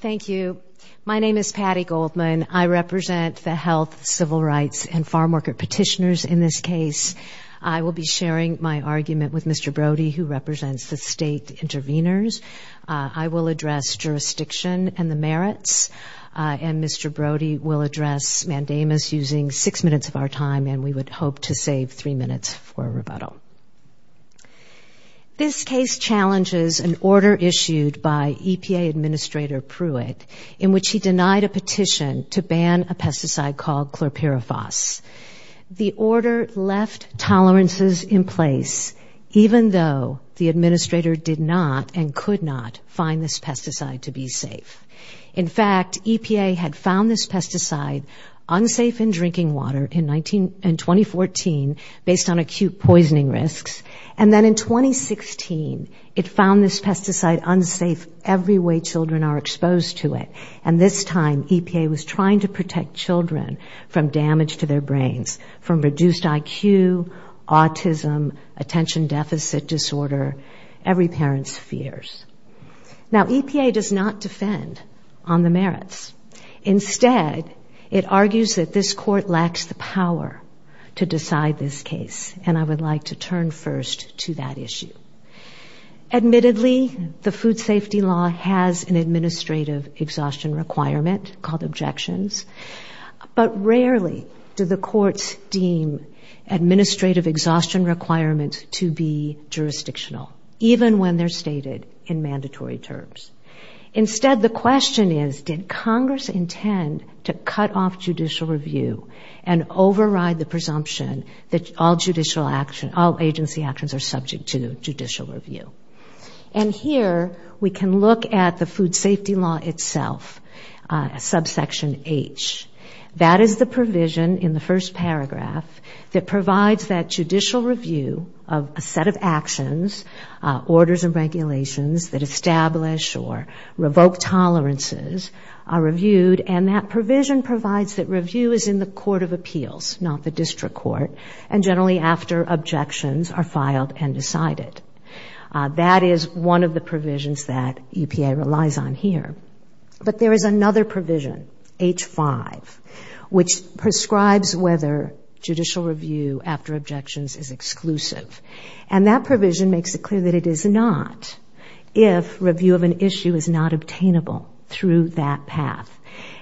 Thank you. My name is Patty Goldman. I represent the Health, Civil Rights, and Farm Worker petitioners in this case. I will be sharing my argument with Mr. Brody, who represents the state intervenors. I will address jurisdiction and the merits, and Mr. Brody will address mandamus using six minutes of our time, and we would hope to save three minutes for rebuttal. This case challenges an order issued by EPA Administrator Pruitt in which he denied a petition to ban a pesticide called chlorpyrifos. The order left tolerances in place, even though the administrator did not and could not find this pesticide to be safe. In fact, EPA had found this pesticide unsafe in drinking water in 2014 based on acute poisoning risks, and then in 2016 it found this pesticide unsafe every way children are exposed to it, and this time EPA was trying to protect children from damage to their brains, from reduced IQ, autism, attention deficit disorder, every parent's fears. Now EPA does not defend on the merits. Instead, it argues that this court lacks the power to decide this case, and I would like to turn first to that issue. Admittedly, the food safety law has an administrative exhaustion requirement called objections, but rarely do the courts deem administrative exhaustion requirements to be jurisdictional, even when they're stated in mandatory terms. Instead, the question is, did Congress intend to cut off judicial review and override the presumption that all judicial action, all agency actions are subject to judicial review? And here we can look at the food safety law itself, subsection H. That is the provision in the first paragraph that provides that judicial review of a set of actions, orders and regulations that establish or revoke tolerances are reviewed, and that provision provides that review is in the court of appeals, not the district court, and generally after objections are filed and decided. That is one of the provisions that EPA relies on here, but there is another provision, H.5, which prescribes whether judicial review after objections is exclusive, and that provision makes it clear that it is not if review of an issue is not obtainable through that path.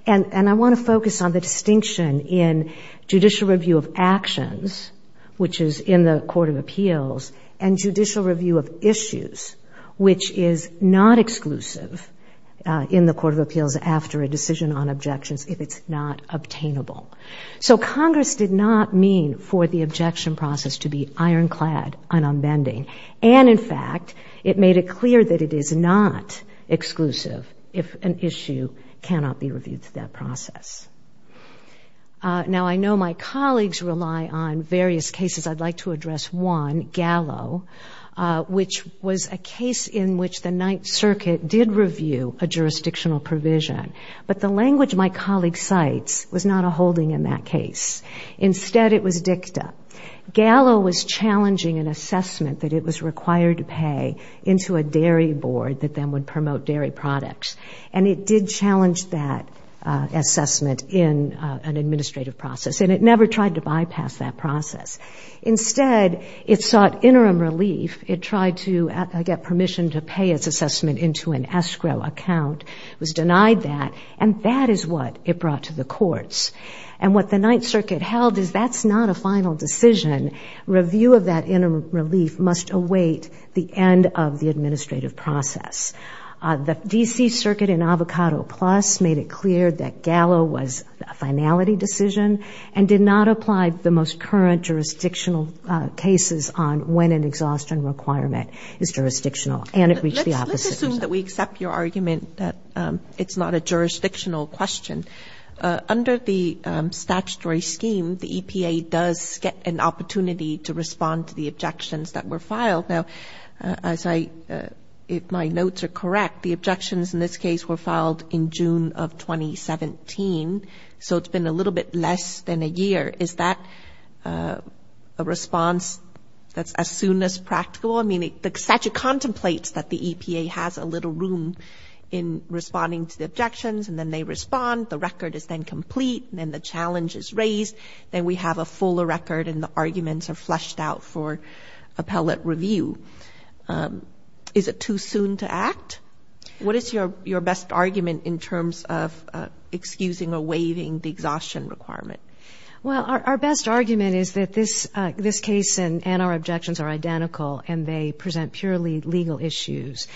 And I want to focus on the distinction in judicial review of actions, which is in the court of appeals, and judicial review of issues, which is not exclusive in the court of appeals after a decision on objections if it's not to be ironclad and unbending. And in fact, it made it clear that it is not exclusive if an issue cannot be reviewed through that process. Now I know my colleagues rely on various cases. I'd like to address one, Gallo, which was a case in which the Ninth Circuit did review a jurisdictional provision, but the language my colleague cites was not a holding in that case. Instead, it was dicta. Gallo was challenging an assessment that it was required to pay into a dairy board that then would promote dairy products, and it did challenge that assessment in an administrative process, and it never tried to bypass that process. Instead, it sought interim relief. It tried to get permission to pay its assessment into an escrow account. It was denied that, and that is what it brought to the courts. And what the Ninth Circuit held is that's not a final decision. Review of that interim relief must await the end of the administrative process. The D.C. Circuit in Avocado Plus made it clear that Gallo was a finality decision and did not apply the most current jurisdictional cases on when an exhaustion requirement is jurisdictional, and it reached the opposite result. Let's assume that we accept your argument that it's not a jurisdictional question. Under the statutory scheme, the EPA does get an opportunity to respond to the objections that were filed. Now, as I, if my notes are correct, the objections in this case were filed in November. Is that a response that's as soon as practical? I mean, the statute contemplates that the EPA has a little room in responding to the objections, and then they respond. The record is then complete, and then the challenge is raised. Then we have a fuller record, and the arguments are fleshed out for appellate review. Is it too soon to act? What is your best argument in terms of excusing or waiving the exhaustion requirement? Well, our best argument is that this case and our objections are identical, and they present purely legal issues.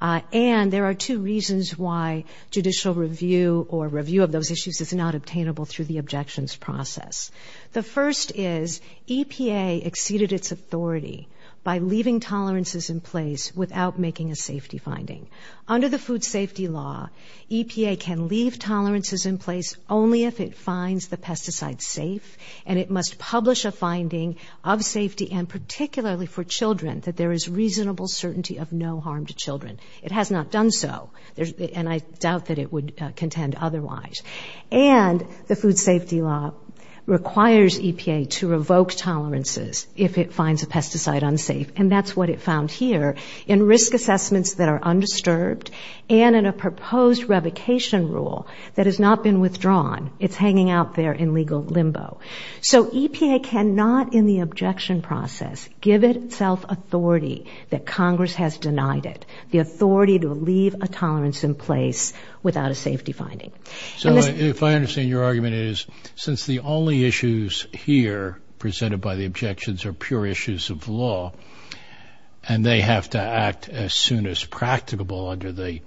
And there are two reasons why judicial review or review of those issues is not obtainable through the objections process. The first is EPA exceeded its authority by leaving tolerances in place without making a safety finding. Under the and it must publish a finding of safety, and particularly for children, that there is reasonable certainty of no harm to children. It has not done so, and I doubt that it would contend otherwise. And the food safety law requires EPA to revoke tolerances if it finds a pesticide unsafe, and that's what it found here. In risk assessments that are undisturbed and in a proposed revocation rule that has not been withdrawn, it's hanging out there in a legal limbo. So EPA cannot, in the objection process, give itself authority that Congress has denied it, the authority to leave a tolerance in place without a safety finding. So if I understand your argument, it is since the only issues here presented by the objections are pure issues of law, and they have to act as soon as practicable under the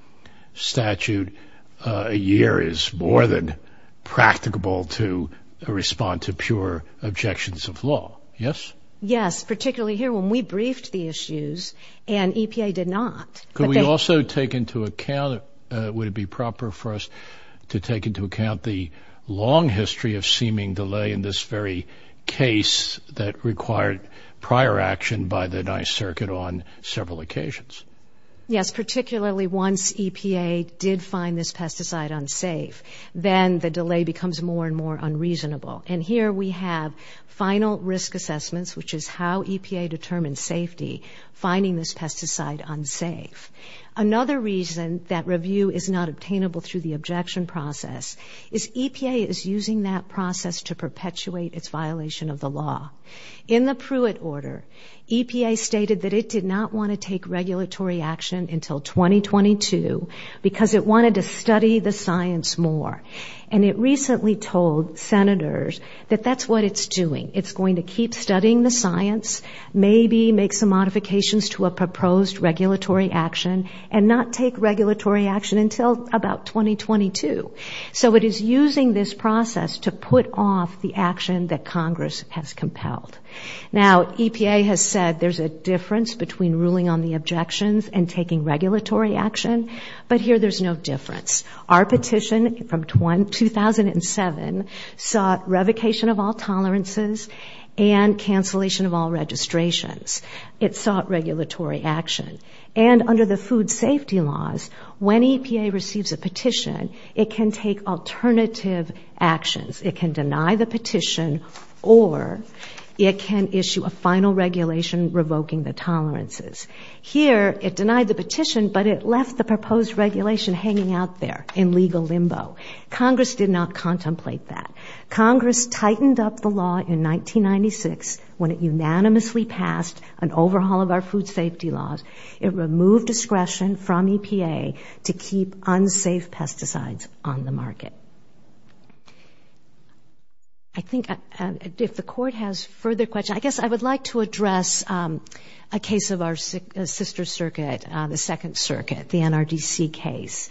statute, a year is more than practicable to respond to pure objections of law, yes? Yes, particularly here when we briefed the issues, and EPA did not. Could we also take into account, would it be proper for us to take into account the long history of seeming delay in this very case that required prior action by the 9th Circuit on several occasions? Yes, particularly once EPA did find this pesticide unsafe, then the delay becomes more and more unreasonable. And here we have final risk assessments, which is how EPA determines safety, finding this pesticide unsafe. Another reason that review is not obtainable through the objection process is EPA is using that process to perpetuate its violation of the law. In the Pruitt order, EPA stated that it did not want to take regulatory action until 2022 because it wanted to study the science more. And it recently told Senators that that's what it's doing. It's going to keep studying the science, maybe make some modifications to a proposed regulatory action, and not take regulatory action until about 2022. So it is using this process to put off the action that Congress has compelled. Now, EPA has said there's a difference between ruling on the objections and taking regulatory action, but here there's no difference. Our petition from 2007 sought revocation of all tolerances and cancellation of all registrations. It sought regulatory action. And under the food safety law, EPA can take alternative actions. It can deny the petition or it can issue a final regulation revoking the tolerances. Here it denied the petition, but it left the proposed regulation hanging out there in legal limbo. Congress did not contemplate that. Congress tightened up the law in 1996 when it unanimously passed an overhaul of our food safety law. I think if the court has further questions, I guess I would like to address a case of our sister circuit, the Second Circuit, the NRDC case.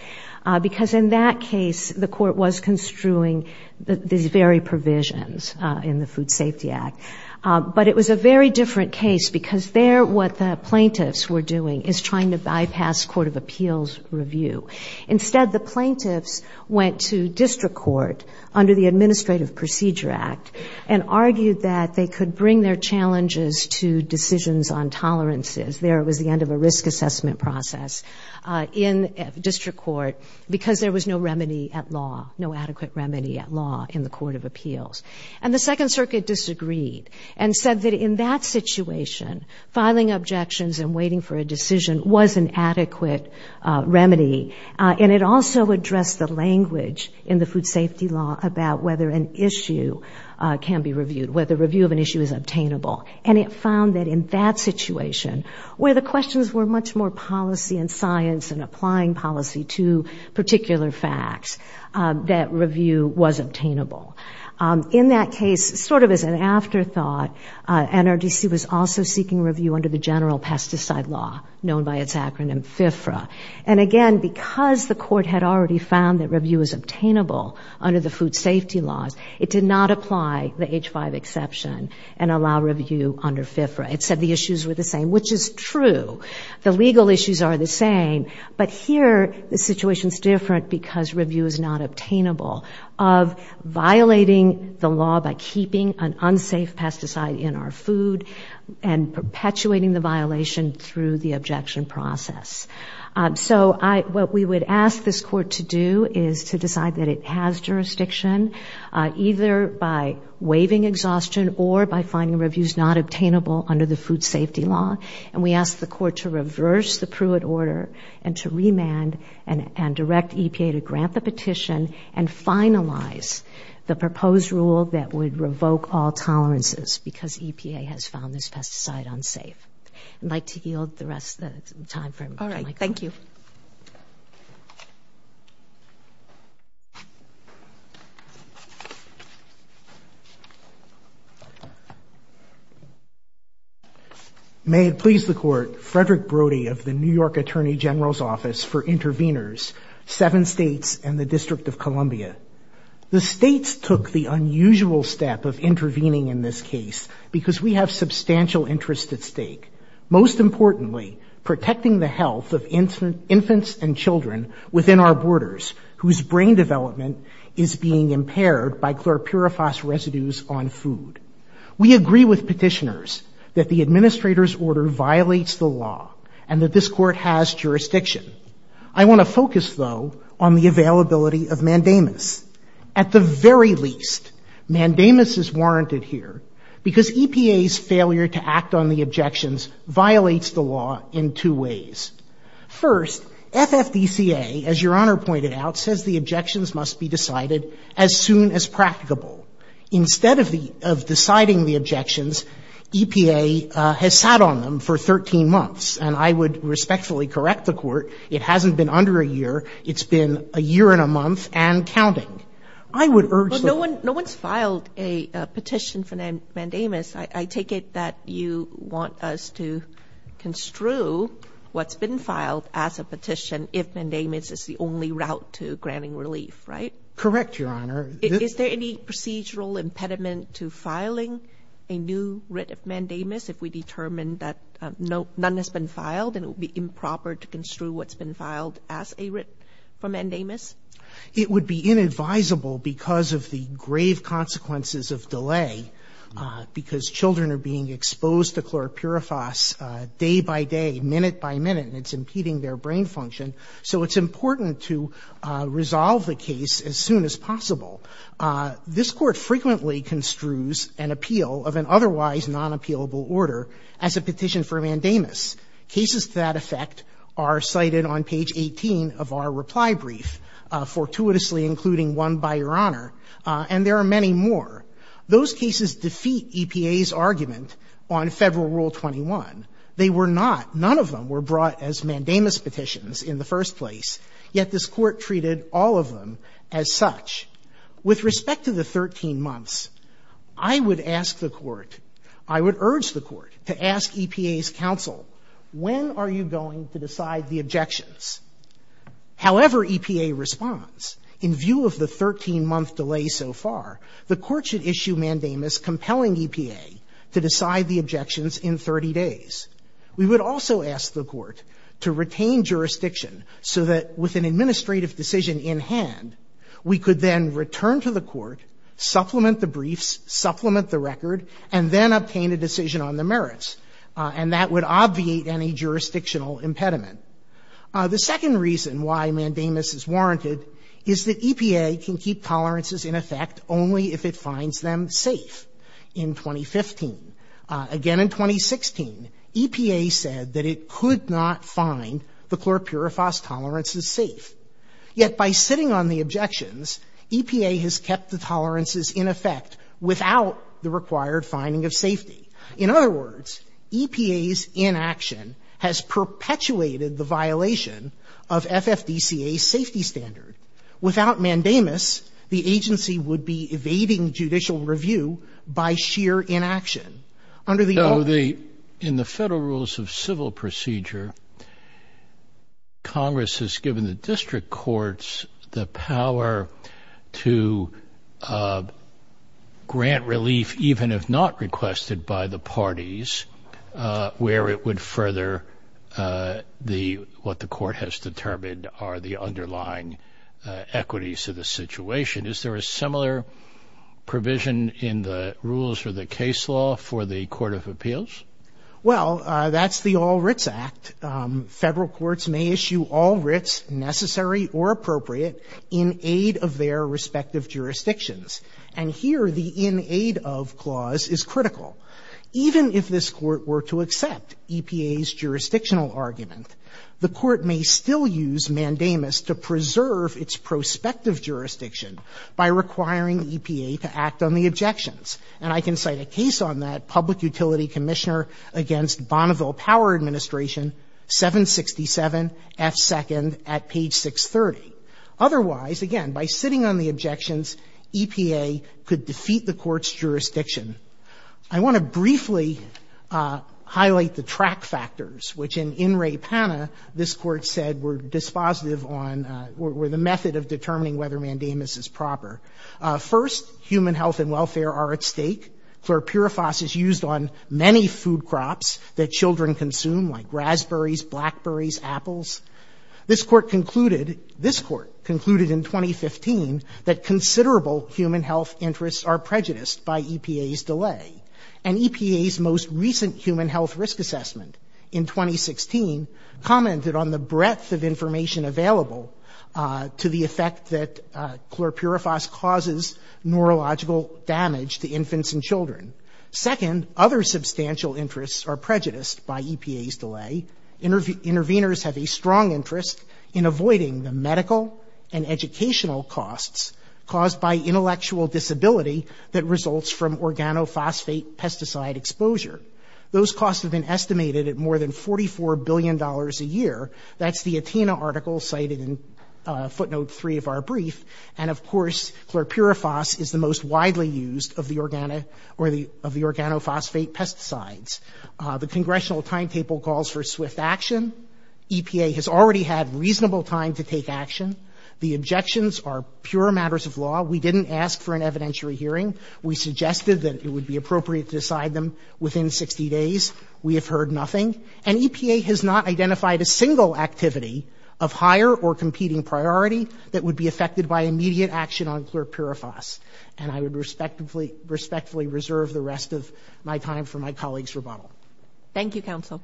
Because in that case, the court was construing these very provisions in the Food Safety Act. But it was a very different case because there what the plaintiffs were doing is trying to bypass Court of Appeals review. Instead, the plaintiffs went to district court under the Administrative Procedure Act and argued that they could bring their challenges to decisions on tolerances. There was the end of a risk assessment process in district court because there was no remedy at law, no adequate remedy at law in the Court of Appeals. And the Second Circuit disagreed and said that in that situation, filing objections and waiting for a decision was an adequate remedy. And it also addressed the language in the food safety law about whether an issue can be reviewed, whether review of an issue is obtainable. And it found that in that situation, where the questions were much more policy and science and applying policy to particular facts, that review was obtainable. In that case, sort of as an afterthought, NRDC was also seeking review under the general pesticide law known by its acronym FFRA. And again, because the court had already found that review was obtainable under the food safety laws, it did not apply the H-5 exception and allow review under FFRA. It said the issues were the same, which is true. The legal issues are the same. But here, the situation is different because review is not obtainable of violating the law by keeping an unsafe pesticide in our food and perpetuating the violation through the objection process. So what we would ask this court to do is to decide that it has jurisdiction, either by waiving exhaustion or by finding reviews not obtainable under the food safety law. And we asked the court to reverse the Pruitt order and to remand and direct EPA to grant the petition and finalize the proposed rule that would revoke all tolerances because EPA has found this pesticide unsafe. I'd like to yield the rest of the time for Michael. May it please the court, Frederick Brody of the New York Attorney General's Office for the United States took the unusual step of intervening in this case because we have substantial interest at stake, most importantly, protecting the health of infants and children within our borders whose brain development is being impaired by chlorpyrifos residues on food. We agree with petitioners that the administrator's order violates the law and that this court has jurisdiction. I want to focus, though, on the availability of mandamus. At the very least, mandamus is warranted here because EPA's failure to act on the objections violates the law in two ways. First, FFDCA, as Your Honor pointed out, says the objections must be decided as soon as practicable. Instead of deciding the objections, EPA has sat on them for 13 months. And I would respectfully correct the court. It hasn't been under a year. It's been a year and a month and counting. I would urge the court to do that. No one's filed a petition for mandamus. I take it that you want us to construe what's been filed as a petition if mandamus is the only route to granting relief, right? Correct, Your Honor. Is there any procedural impediment to filing a new writ of mandamus if we determine that none has been filed and it would be improper to construe what's been filed as a writ for mandamus? It would be inadvisable because of the grave consequences of delay because children are being exposed to chlorpyrifos day by day, minute by minute, and it's impeding their brain function. So it's important to resolve the case as soon as possible. This court frequently construes an appeal of an otherwise non-appealable order as a petition for mandamus. Cases to that effect are cited on page 18 of our reply brief, fortuitously including one by Your Honor, and there are many more. Those cases defeat EPA's argument on Federal Rule 21. They were not, none of them were brought as mandamus petitions in the first place, yet this court treated all of them as such. With respect to the 13 months, I would ask the Court, I would urge the Court to ask EPA's counsel, when are you going to decide the objections? However, EPA responds, in view of the 13-month delay so far, the Court should issue mandamus compelling EPA to decide the objections in 30 days. We would also ask the Court to retain this demand. We could then return to the Court, supplement the briefs, supplement the record, and then obtain a decision on the merits, and that would obviate any jurisdictional impediment. The second reason why mandamus is warranted is that EPA can keep tolerances in effect only if it finds them safe. In 2015. Again in 2016, EPA said that it could not find the objections. EPA has kept the tolerances in effect without the required finding of safety. In other words, EPA's inaction has perpetuated the violation of FFDCA's safety standard. Without mandamus, the agency would be evading judicial review by sheer inaction. Under the law. In the Federal Rules of Civil Procedure, Congress has given the district courts the power to grant relief, even if not requested by the parties, where it would further what the Court has determined are the underlying equities of the situation. Is there a similar provision in the rules or the case law for the Court of Appeals? Well, that's the All Writs Act. Federal courts may issue all writs, necessary or appropriate, in aid of their respective jurisdictions. And here, the in aid of clause is critical. Even if this Court were to accept EPA's jurisdictional argument, the Court may still use mandamus to preserve its prospective jurisdiction by requiring EPA to act on the objections. And I can cite a case on that, Public Utility Commissioner against Bonneville Power Administration 767F2nd at page 630. Otherwise, again, by sitting on the objections, EPA could defeat the Court's jurisdiction. I want to briefly highlight the track factors, which in In Re Pana, this Court said were dispositive on, were the method of determining whether mandamus is proper. First, human health and welfare are at stake. Chlorpyrifos is used on many food crops that include raspberries, blackberries, apples. This Court concluded, this Court concluded in 2015 that considerable human health interests are prejudiced by EPA's delay. And EPA's most recent human health risk assessment in 2016 commented on the breadth of information available to the effect that chlorpyrifos causes neurological damage to infants and children. Interveners have a strong interest in avoiding the medical and educational costs caused by intellectual disability that results from organophosphate pesticide exposure. Those costs have been estimated at more than $44 billion a year. That's the Atena article cited in footnote 3 of our brief. And, of course, chlorpyrifos is the most widely used of the organophosphate pesticides. The Congressional timetable calls for swift action. EPA has already had reasonable time to take action. The objections are pure matters of law. We didn't ask for an evidentiary hearing. We suggested that it would be appropriate to decide them within 60 days. We have heard nothing. And EPA has not identified a single activity of higher or competing priority that would be affected by immediate action on chlorpyrifos. And I would respectfully reserve the rest of my time for my colleague's rebuttal. Thank you, counsel.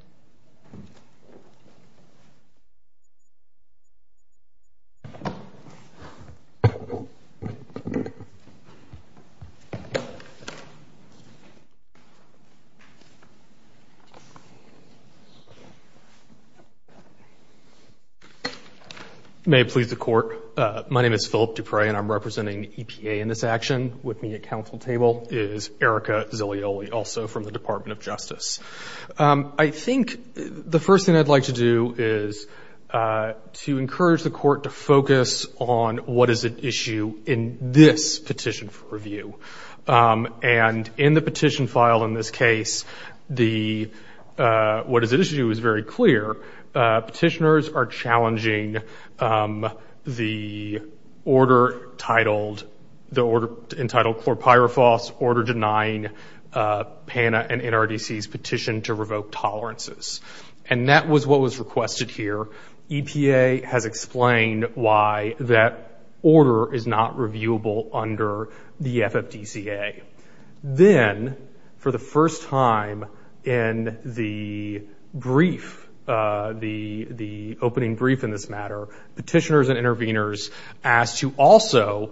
May it please the court. My name is Philip Dupre and I'm representing EPA in this action. With me at counsel table is Erica Zilioli, also from the Department of Justice. I think the first thing I'd like to do is to encourage the court to focus on what is at issue in this petition for review. And in the petition file in this case, the what is at issue is very clear. Petitioners are challenging the order titled, the order in this case, the entitled chlorpyrifos order denying PANA and NRDC's petition to revoke tolerances. And that was what was requested here. EPA has explained why that order is not reviewable under the FFDCA. Then, for the first time in the brief, the opening brief in this matter, petitioners and interveners asked to also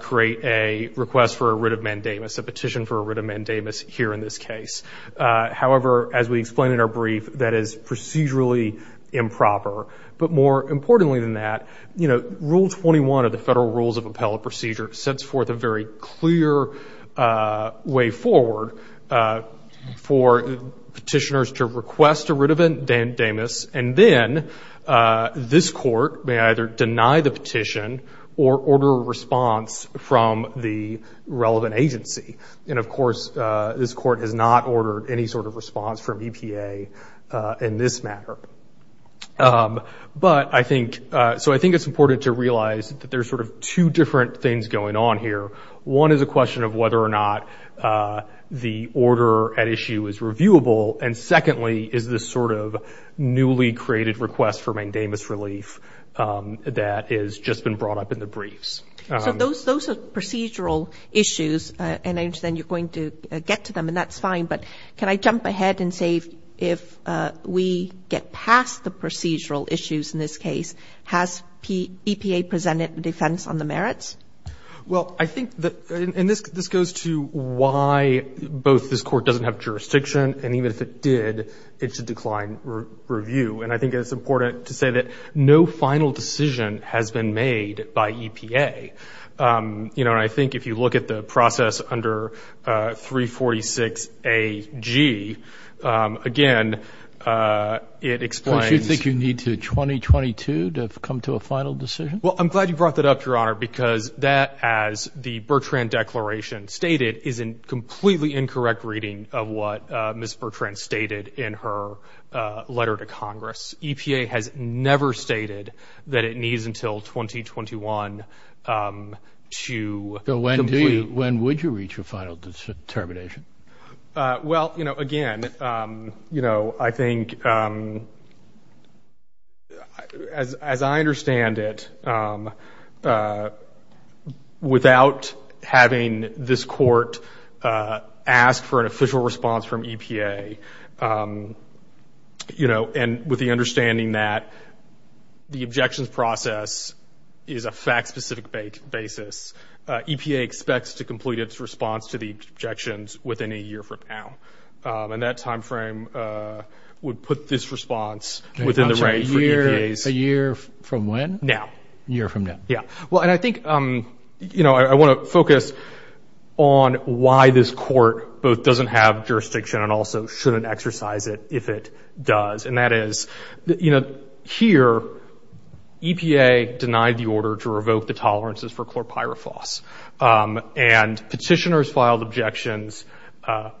create a request for a writ of mandamus, a petition for a writ of mandamus here in this case. However, as we explained in our brief, that is procedurally improper. But more importantly than that, Rule 21 of the Federal Rules of Appellate Procedure sets forth a very clear way forward for petitioners to request a writ of mandamus. And then, this court may either deny the petition or order a response from the relevant agency. And of course, this court has not ordered any sort of response from EPA in this matter. But I think, so I think it's important to realize that there's sort of two different things going on here. One is a question of whether or not the order at issue is reviewable. And secondly, is this sort of newly created request for mandamus relief that has just been brought up in the briefs. So, those are procedural issues. And I understand you're going to get to them, and that's fine. But can I jump ahead and say, if we get past the procedural issues in this case, has EPA presented a defense on the merits? Well, I think that, and this goes to why both this court doesn't have jurisdiction, and even if it did, it's a declined review. And I think it's important to say that no final decision has been made by EPA. You know, and I think if you look at the process under 346 AG, again, it explains... Don't you think you need to 2022 to come to a final decision? Well, I'm glad you brought that up, Your Honor, because that, as the Bertrand Declaration stated, is a completely incorrect reading of what Ms. Bertrand stated in her letter to Congress. EPA has never stated that it needs until 2021 to complete. So, when do you, when would you reach a final determination? Well, you know, again, you know, I think, as I understand it, you know, I think the process, without having this court ask for an official response from EPA, you know, and with the understanding that the objections process is a fact-specific basis, EPA expects to complete its response to the objections within a year from now. And that time frame would put this response within the range for EPA's... A year from when? Now. A year from now. Yeah. Well, and I think, you know, I want to focus on why this court both doesn't have jurisdiction and also shouldn't exercise it if it does. And that is, you know, here, EPA denied the order to revoke the tolerances for chlorpyrifos. And petitioners filed objections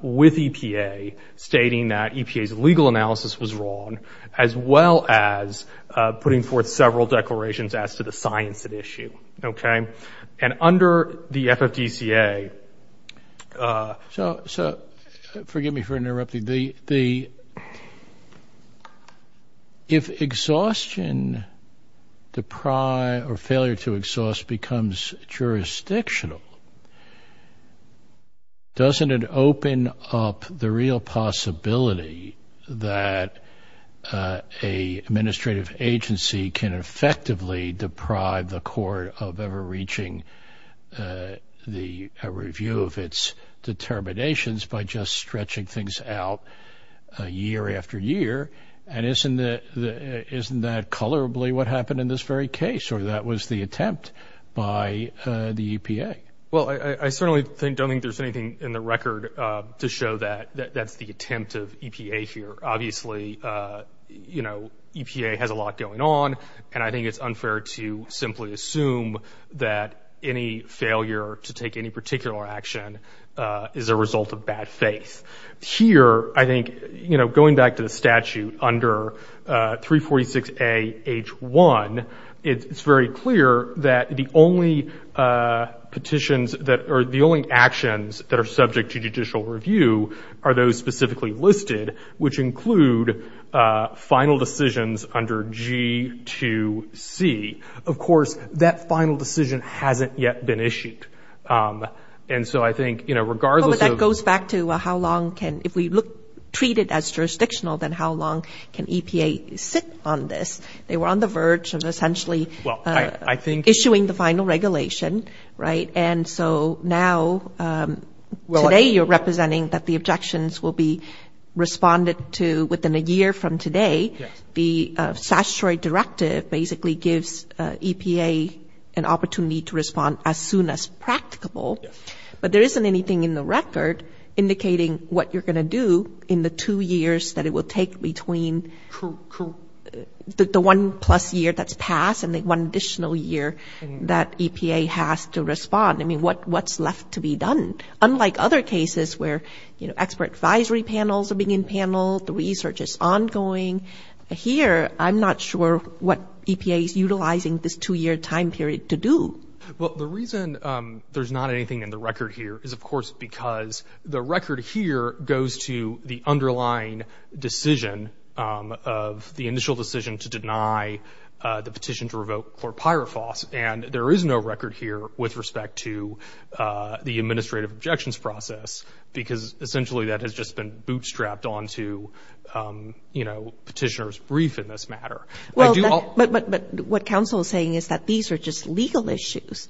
with EPA stating that EPA's legal analysis was wrong, as well as putting forth several declarations as to the science at issue. Okay? And under the FFDCA... So forgive me for interrupting. If exhaustion, or failure to exhaust, becomes jurisdictional, doesn't it open up the real possibility that an administrative agency can effect the process and effectively deprive the court of ever reaching a review of its determinations by just stretching things out year after year? And isn't that colorably what happened in this very case, or that was the attempt by the EPA? Well, I certainly don't think there's anything in the record to show that that's the attempt of EPA here. Obviously, you know, EPA has a lot going on, and I think it's unfair to simply assume that any failure to take any particular action is a result of bad faith. Here, I think, you know, going back to the statute under 346A H1, it's very clear that the only petitions that...or the only actions that are subject to judicial review are those specifically listed, which include final decisions under G2C. Of course, that final decision hasn't yet been issued. And so I think, you know, regardless of... Well, but that goes back to how long can...if we look...treat it as jurisdictional, then how long can EPA sit on this? They were on the verge of essentially issuing the final regulation, right? And so now, today you're representing that the objections will be responded to within a year from today. The statutory directive basically gives EPA an opportunity to respond as soon as practicable. But there isn't anything in the record indicating what you're going to do in the two years that it will take between the one-plus year that's a conditional year that EPA has to respond. I mean, what's left to be done? Unlike other cases where, you know, expert advisory panels are being paneled, the research is ongoing. Here, I'm not sure what EPA is utilizing this two-year time period to do. Well, the reason there's not anything in the record here is, of course, because the record here goes to the underlying decision of the initial decision to deny the petition to revoke for Pyrofos, and there is no record here with respect to the administrative objections process because essentially that has just been bootstrapped onto, you know, petitioner's brief in this matter. Well, but what counsel is saying is that these are just legal issues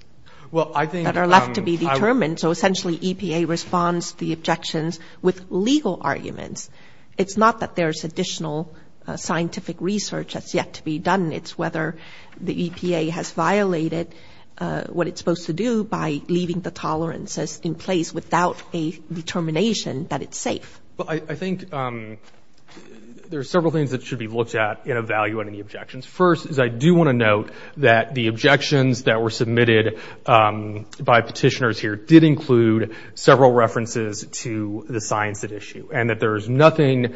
that are left to be determined. So essentially, EPA responds to the objections with legal arguments. It's not that there's additional scientific research that's yet to be done. It's whether the EPA has violated what it's supposed to do by leaving the tolerances in place without a determination that it's safe. Well, I think there are several things that should be looked at in evaluating the objections. First is I do want to note that the objections that were submitted by petitioners here did include several references to the science at issue and that there's nothing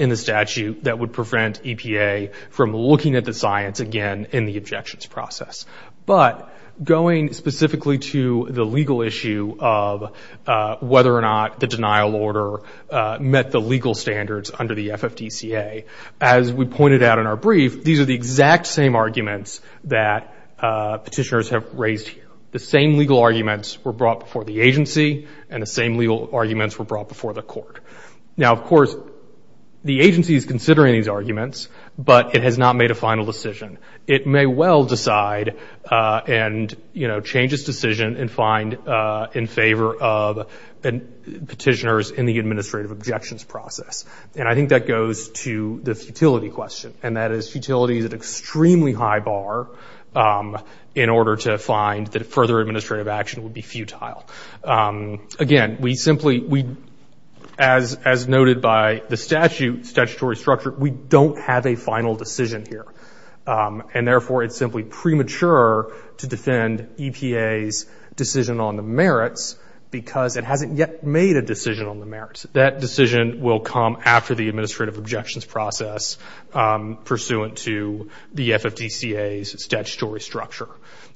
in the statute that would prevent EPA from looking at the science again in the objections process. But going specifically to the legal issue of whether or not the denial order met the legal standards under the FFDCA, as we pointed out in our brief, these are the exact same arguments that petitioners have raised here. The same legal arguments were brought before the agency and the same legal arguments were brought before the court. Now of course, the agency is considering these arguments, but it has not made a final decision. It may well decide and, you know, change its decision and find in favor of petitioners in the administrative objections process. And I think that goes to the futility question and that is futility is an extremely high bar in order to find that further administrative action would be futile. Again, we simply, as noted by the statute, statutory structure, we don't have a final decision here. And therefore, it's simply premature to defend EPA's decision on the merits because it hasn't yet made a decision on the merits. That decision will come after the administrative objections process pursuant to the FFDCA's statutory structure.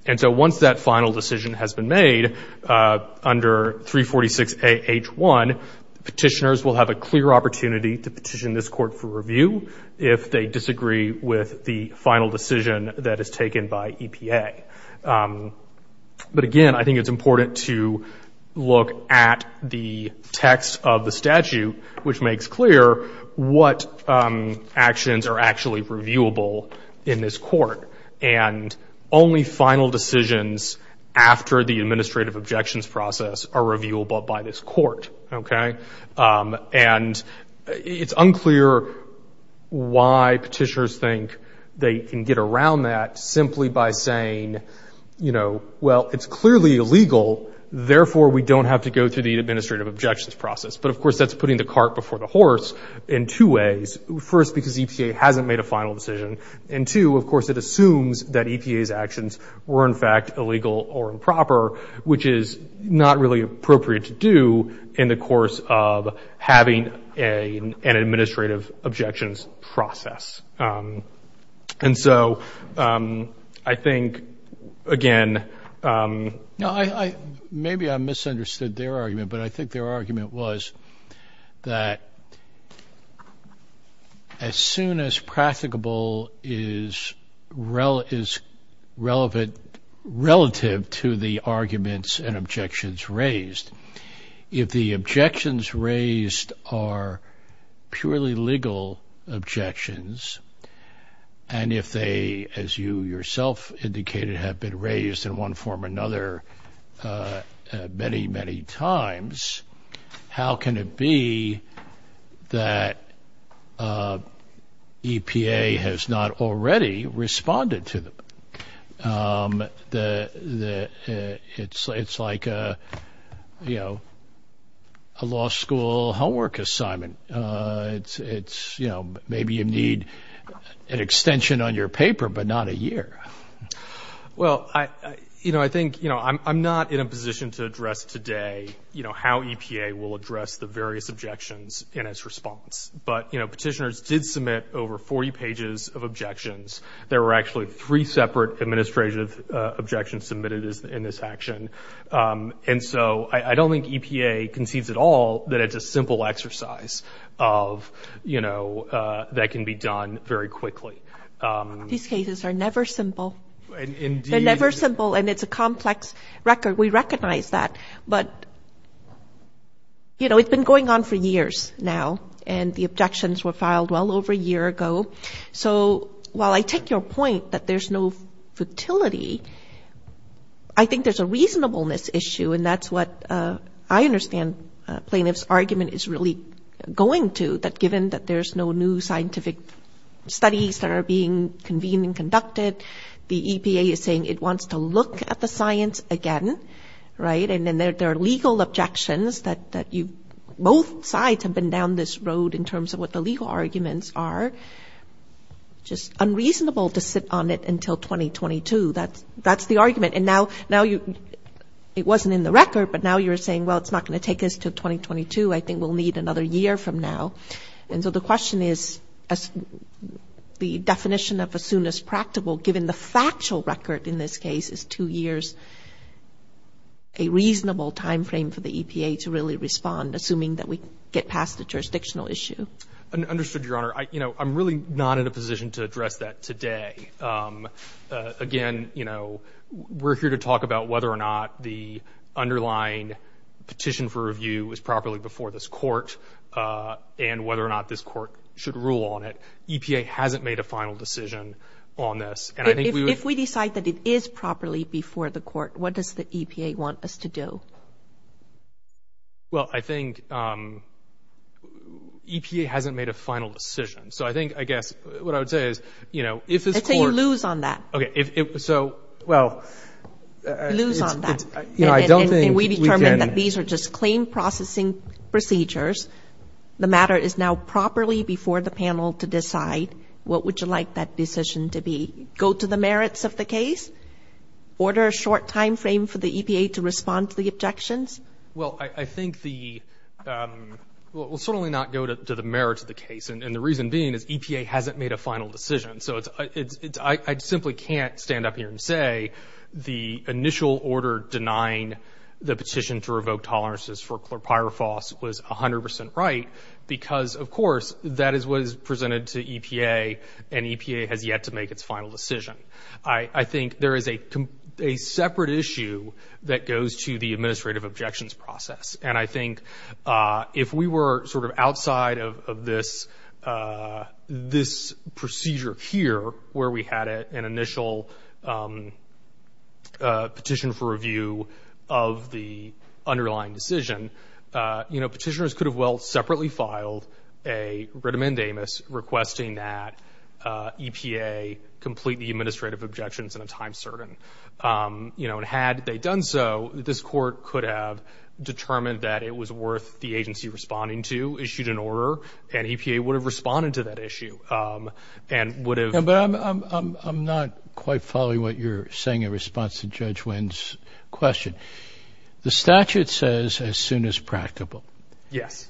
And so once that final decision has been made under 346A.H.1, petitioners will have a clear opportunity to petition this court for review if they disagree with the final decision that is taken by EPA. But again, I think it's important to look at the text of the statute, which makes clear what actions are actually reviewable in this court. And only things that are reviewable in the final decisions after the administrative objections process are reviewable by this court. Okay? And it's unclear why petitioners think they can get around that simply by saying, you know, well, it's clearly illegal, therefore we don't have to go through the administrative objections process. But of course that's putting the cart before the horse in two ways. First, because EPA hasn't made a final decision. And two, of course it assumes that EPA's actions were in fact illegal or improper, which is not really appropriate to do in the course of having an administrative objections process. And so I think, again... No, I, maybe I misunderstood their argument, but I think their argument was that as EPA as soon as practicable is relative to the arguments and objections raised, if the objections raised are purely legal objections, and if they, as you yourself indicated, have been raised in one form or another many, many times, how can it be that the objections raised are EPA has not already responded to them? It's like a, you know, a law school homework assignment. It's, you know, maybe you need an extension on your paper, but not a year. Well, you know, I think, you know, I'm not in a position to address today, you know, how EPA will address the various objections in its response. But, you know, petitioners did submit over 40 pages of objections. There were actually three separate administrative objections submitted in this action. And so I don't think EPA concedes at all that it's a simple exercise of, you know, that can be done very quickly. These cases are never simple. Indeed. They're never simple, and it's a complex record. We recognize that. But, you know, it's been going on for years now, and the objections were filed well over a year ago. So while I take your point that there's no futility, I think there's a reasonableness issue, and that's what I understand plaintiff's argument is really going to, that given that there's no new scientific studies that are being convened and conducted, the EPA is saying it wants to look at the science again, right? And then there are legal objections that you both sides have been down this road in terms of what the legal arguments are. Just unreasonable to sit on it until 2022. That's the argument. And now you, it wasn't in the record, but now you're saying, well, it's not going to take us to 2022. I think we'll need another year from now. And so the question is, the definition of as soon as practical, given the factual record in this case is two years, a reasonable timeframe for the EPA to really respond, assuming that we get past the jurisdictional issue. I understood, Your Honor. You know, I'm really not in a position to address that today. Again, you know, we're here to talk about whether or not the underlying petition for review is properly before this court and whether or not this court should rule on it. EPA hasn't made a final decision on this. If we decide that it is properly before the court, what does the EPA want us to do? Well, I think EPA hasn't made a final decision. So I think, I guess what I would say is, you know, if it's a, you lose on that. Okay. So, well, lose on that. And we determined that these are just claim processing procedures. The matter is now properly before the panel to decide what would you like that decision to be? Go to the merits of the case? Order a short timeframe for the EPA to respond to the objections? Well, I think the, we'll certainly not go to the merits of the case. And the reason being is EPA hasn't made a final decision. So it's, it's, it's, I simply can't stand up here and say the initial order denying the petition to revoke tolerances for chlorpyrifos was 100% right because of course that is what is presented to EPA and EPA has yet to make its final decision. I, I think there is a, a separate issue that goes to the administrative objections process. And I think if we were sort of outside of this, this procedure here, where we had an initial petition for review of the underlying decision, you know, petitioners could have well separately filed a writ amendamus requesting that EPA complete the administrative objections in a time certain. You know, and had they done so, this court could have determined that it was worth the agency responding to issued an order and EPA would have responded to that issue and would have. Yeah, but I'm, I'm, I'm, I'm not quite following what you're saying in response to Judge Wynn's question. The statute says as soon as practicable. Yes.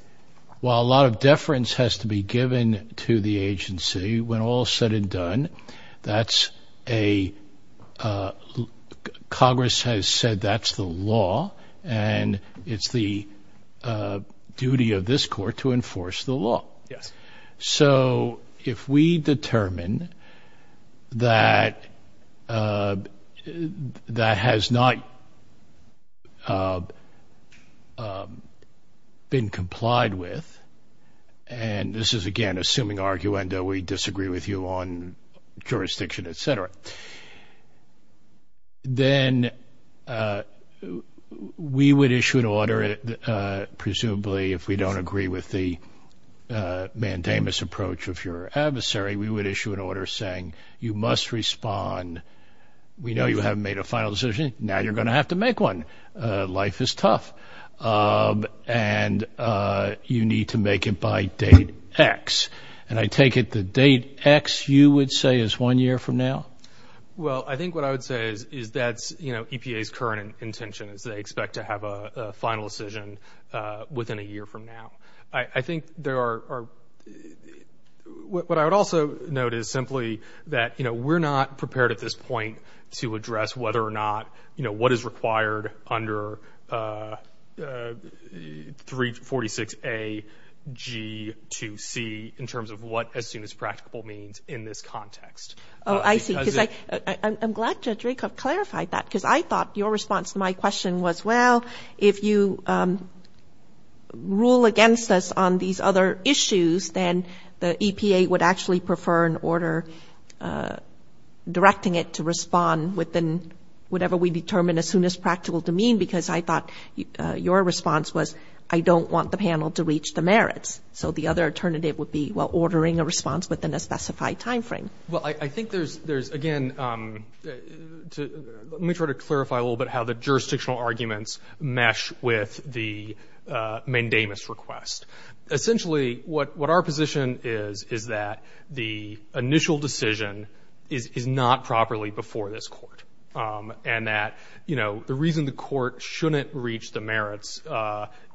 While a lot of deference has to be given to the agency when all said and done, that's a, a Congress has said that's the law and it's the duty of this court to enforce the law. Yes. So if we determine that, that has not been complied with, and this is again, assuming arguendo, we disagree with you on jurisdiction, et cetera, then we would issue an order. Presumably, if we don't agree with the mandamus approach of your adversary, we would issue an order saying you must respond. We know you haven't made a final decision. Now you're going to have to make one. Life is tough. And you need to make it by date X. And I take it the date X you would say is one year from now? Well, I think what I would say is, is that's, you know, EPA's current intention is they expect to have a final decision within a year from now. I think there are, what I would also note is simply that, you know, we're not prepared at this point to address whether or not, you know, what is 346AG2C in terms of what as soon as practical means in this context. Oh, I see. I'm glad Judge Rakoff clarified that because I thought your response to my question was, well, if you rule against us on these other issues, then the EPA would actually prefer an order directing it to respond within whatever we determine as soon as practical to mean, because I thought your response was I don't want the panel to reach the merits. So the other alternative would be, well, ordering a response within a specified time frame. Well, I think there's, again, let me try to clarify a little bit how the jurisdictional arguments mesh with the mandamus request. Essentially, what our position is, is that the initial decision is not properly before this court. And that, you know, the reason the court shouldn't reach the merits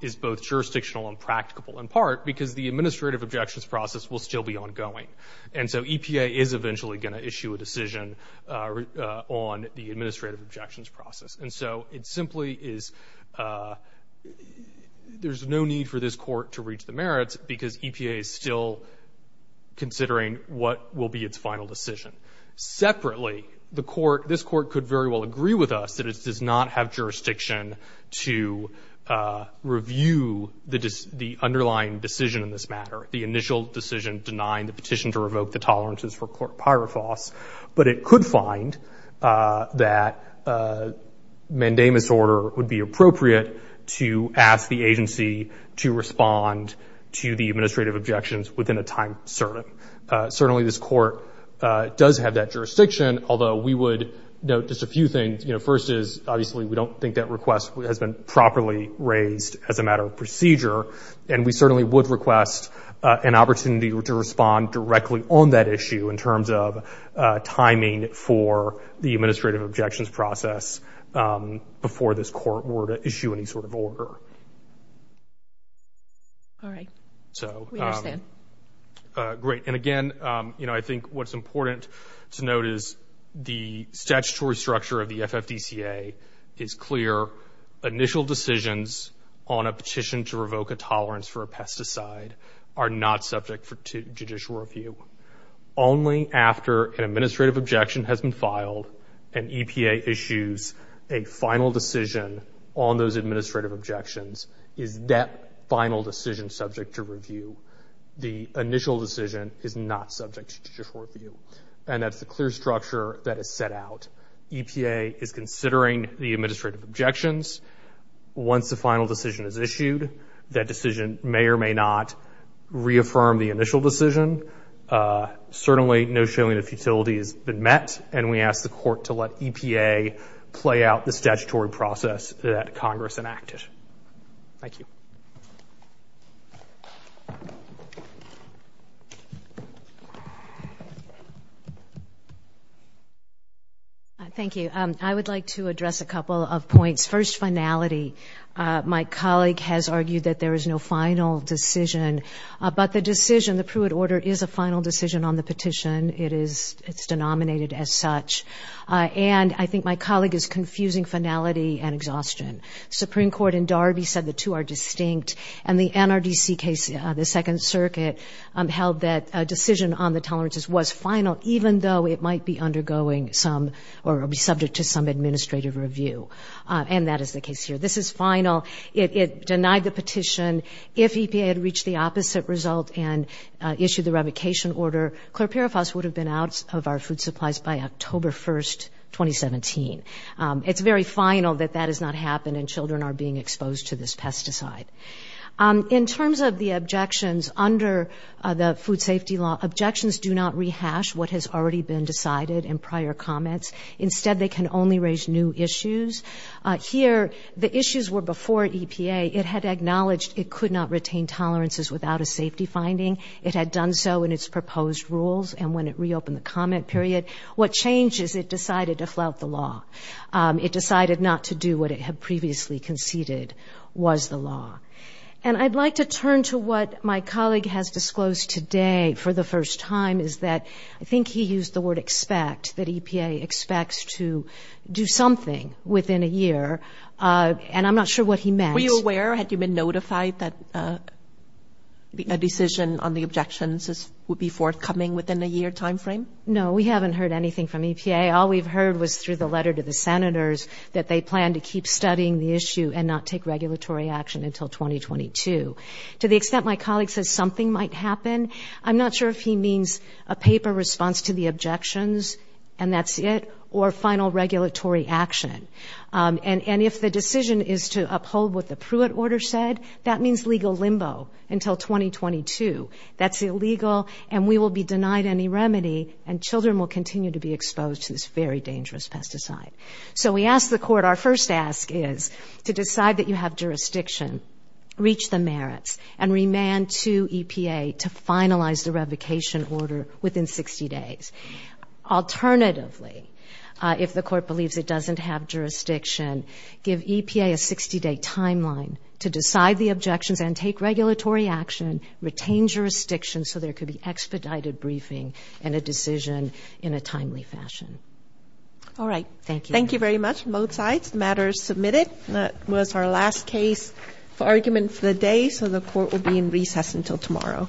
is both jurisdictional and practicable in part because the administrative objections process will still be ongoing. And so EPA is eventually going to issue a decision on the administrative objections process. And so it simply is, you know, there's no need for this court to reach the merits because EPA is still considering what will be its final decision. Separately, this court could very well agree with us that it does not have jurisdiction to review the underlying decision in this matter, the initial decision denying the petition to revoke the tolerances for court pyrifos. But it could find that mandamus order would be appropriate to ask the agency to respond to the administrative objections within a time certain. Certainly, this court does have that jurisdiction, although we would note just a few things. You know, first is, obviously, we don't think that request has been properly raised as a matter of procedure. And we certainly would request an opportunity to respond directly on that issue in terms of timing for the administrative objections process before this court were to issue any sort of order. All right. We understand. Great. And again, you know, I think what's important to note is the statutory structure of the FFDCA is clear. Initial decisions on a petition to revoke a tolerance for a pesticide are not subject to judicial review. Only after an administrative objection has been filed and EPA issues a final decision on those administrative objections is that final decision subject to review. The initial decision is not subject to judicial review. And that's the clear structure that is set out. EPA is considering the administrative objections. Once the final decision is issued, that decision may or may not reaffirm the initial decision. Certainly, no showing of futility has been met. And we ask the court to let EPA play out the statutory process that Congress enacted. Thank you. Thank you. I would like to address a couple of points. First, finality. My colleague has argued that there is no final decision. But the decision, the Pruitt order, is a final decision on the finality and exhaustion. Supreme Court in Darby said the two are distinct. And the NRDC case, the Second Circuit, held that a decision on the tolerances was final, even though it might be undergoing some or be subject to some administrative review. And that is the case here. This is final. It denied the petition. If EPA had reached the opposite result and issued the revocation order, Clerperifos would have been out of our food supplies by October 1, 2017. It's very final that that has not happened and children are being exposed to this pesticide. In terms of the objections, under the food safety law, objections do not rehash what has already been decided in prior comments. Instead, they can only raise new issues. Here, the issues were before EPA. It had acknowledged it could not retain tolerances without a safety finding. It had done so in its proposed rules. And when it reopened the comment period, what changed is it decided to flout the law. It decided not to do what it had previously conceded was the law. And I'd like to turn to what my colleague has disclosed today for the first time, is that I think he used the word expect, that EPA expects to do something within a year. And I'm not sure what he meant. Had you been notified that a decision on the objections would be forthcoming within a year time frame? No, we haven't heard anything from EPA. All we've heard was through the letter to the senators that they plan to keep studying the issue and not take regulatory action until 2022. To the extent my colleague says something might happen, I'm not sure if he means a paper response to the objections, and that's it, or final regulatory action. And if the decision is to uphold what the Pruitt order said, that means legal limbo until 2022. That's illegal, and we will be denied any remedy, and children will continue to be exposed to this very dangerous pesticide. So we asked the court, our first ask is to decide that you have jurisdiction, reach the merits, and remand to EPA to finalize the revocation order within 60 days. Alternatively, if the court believes it doesn't have jurisdiction, give EPA a 60-day timeline to decide the objections and take regulatory action, retain jurisdiction so there could be expedited briefing and a decision in a timely fashion. All right, thank you. Thank you very much on both sides. The matter is submitted. That was our last case for argument for the day, so the court will be in recess until tomorrow.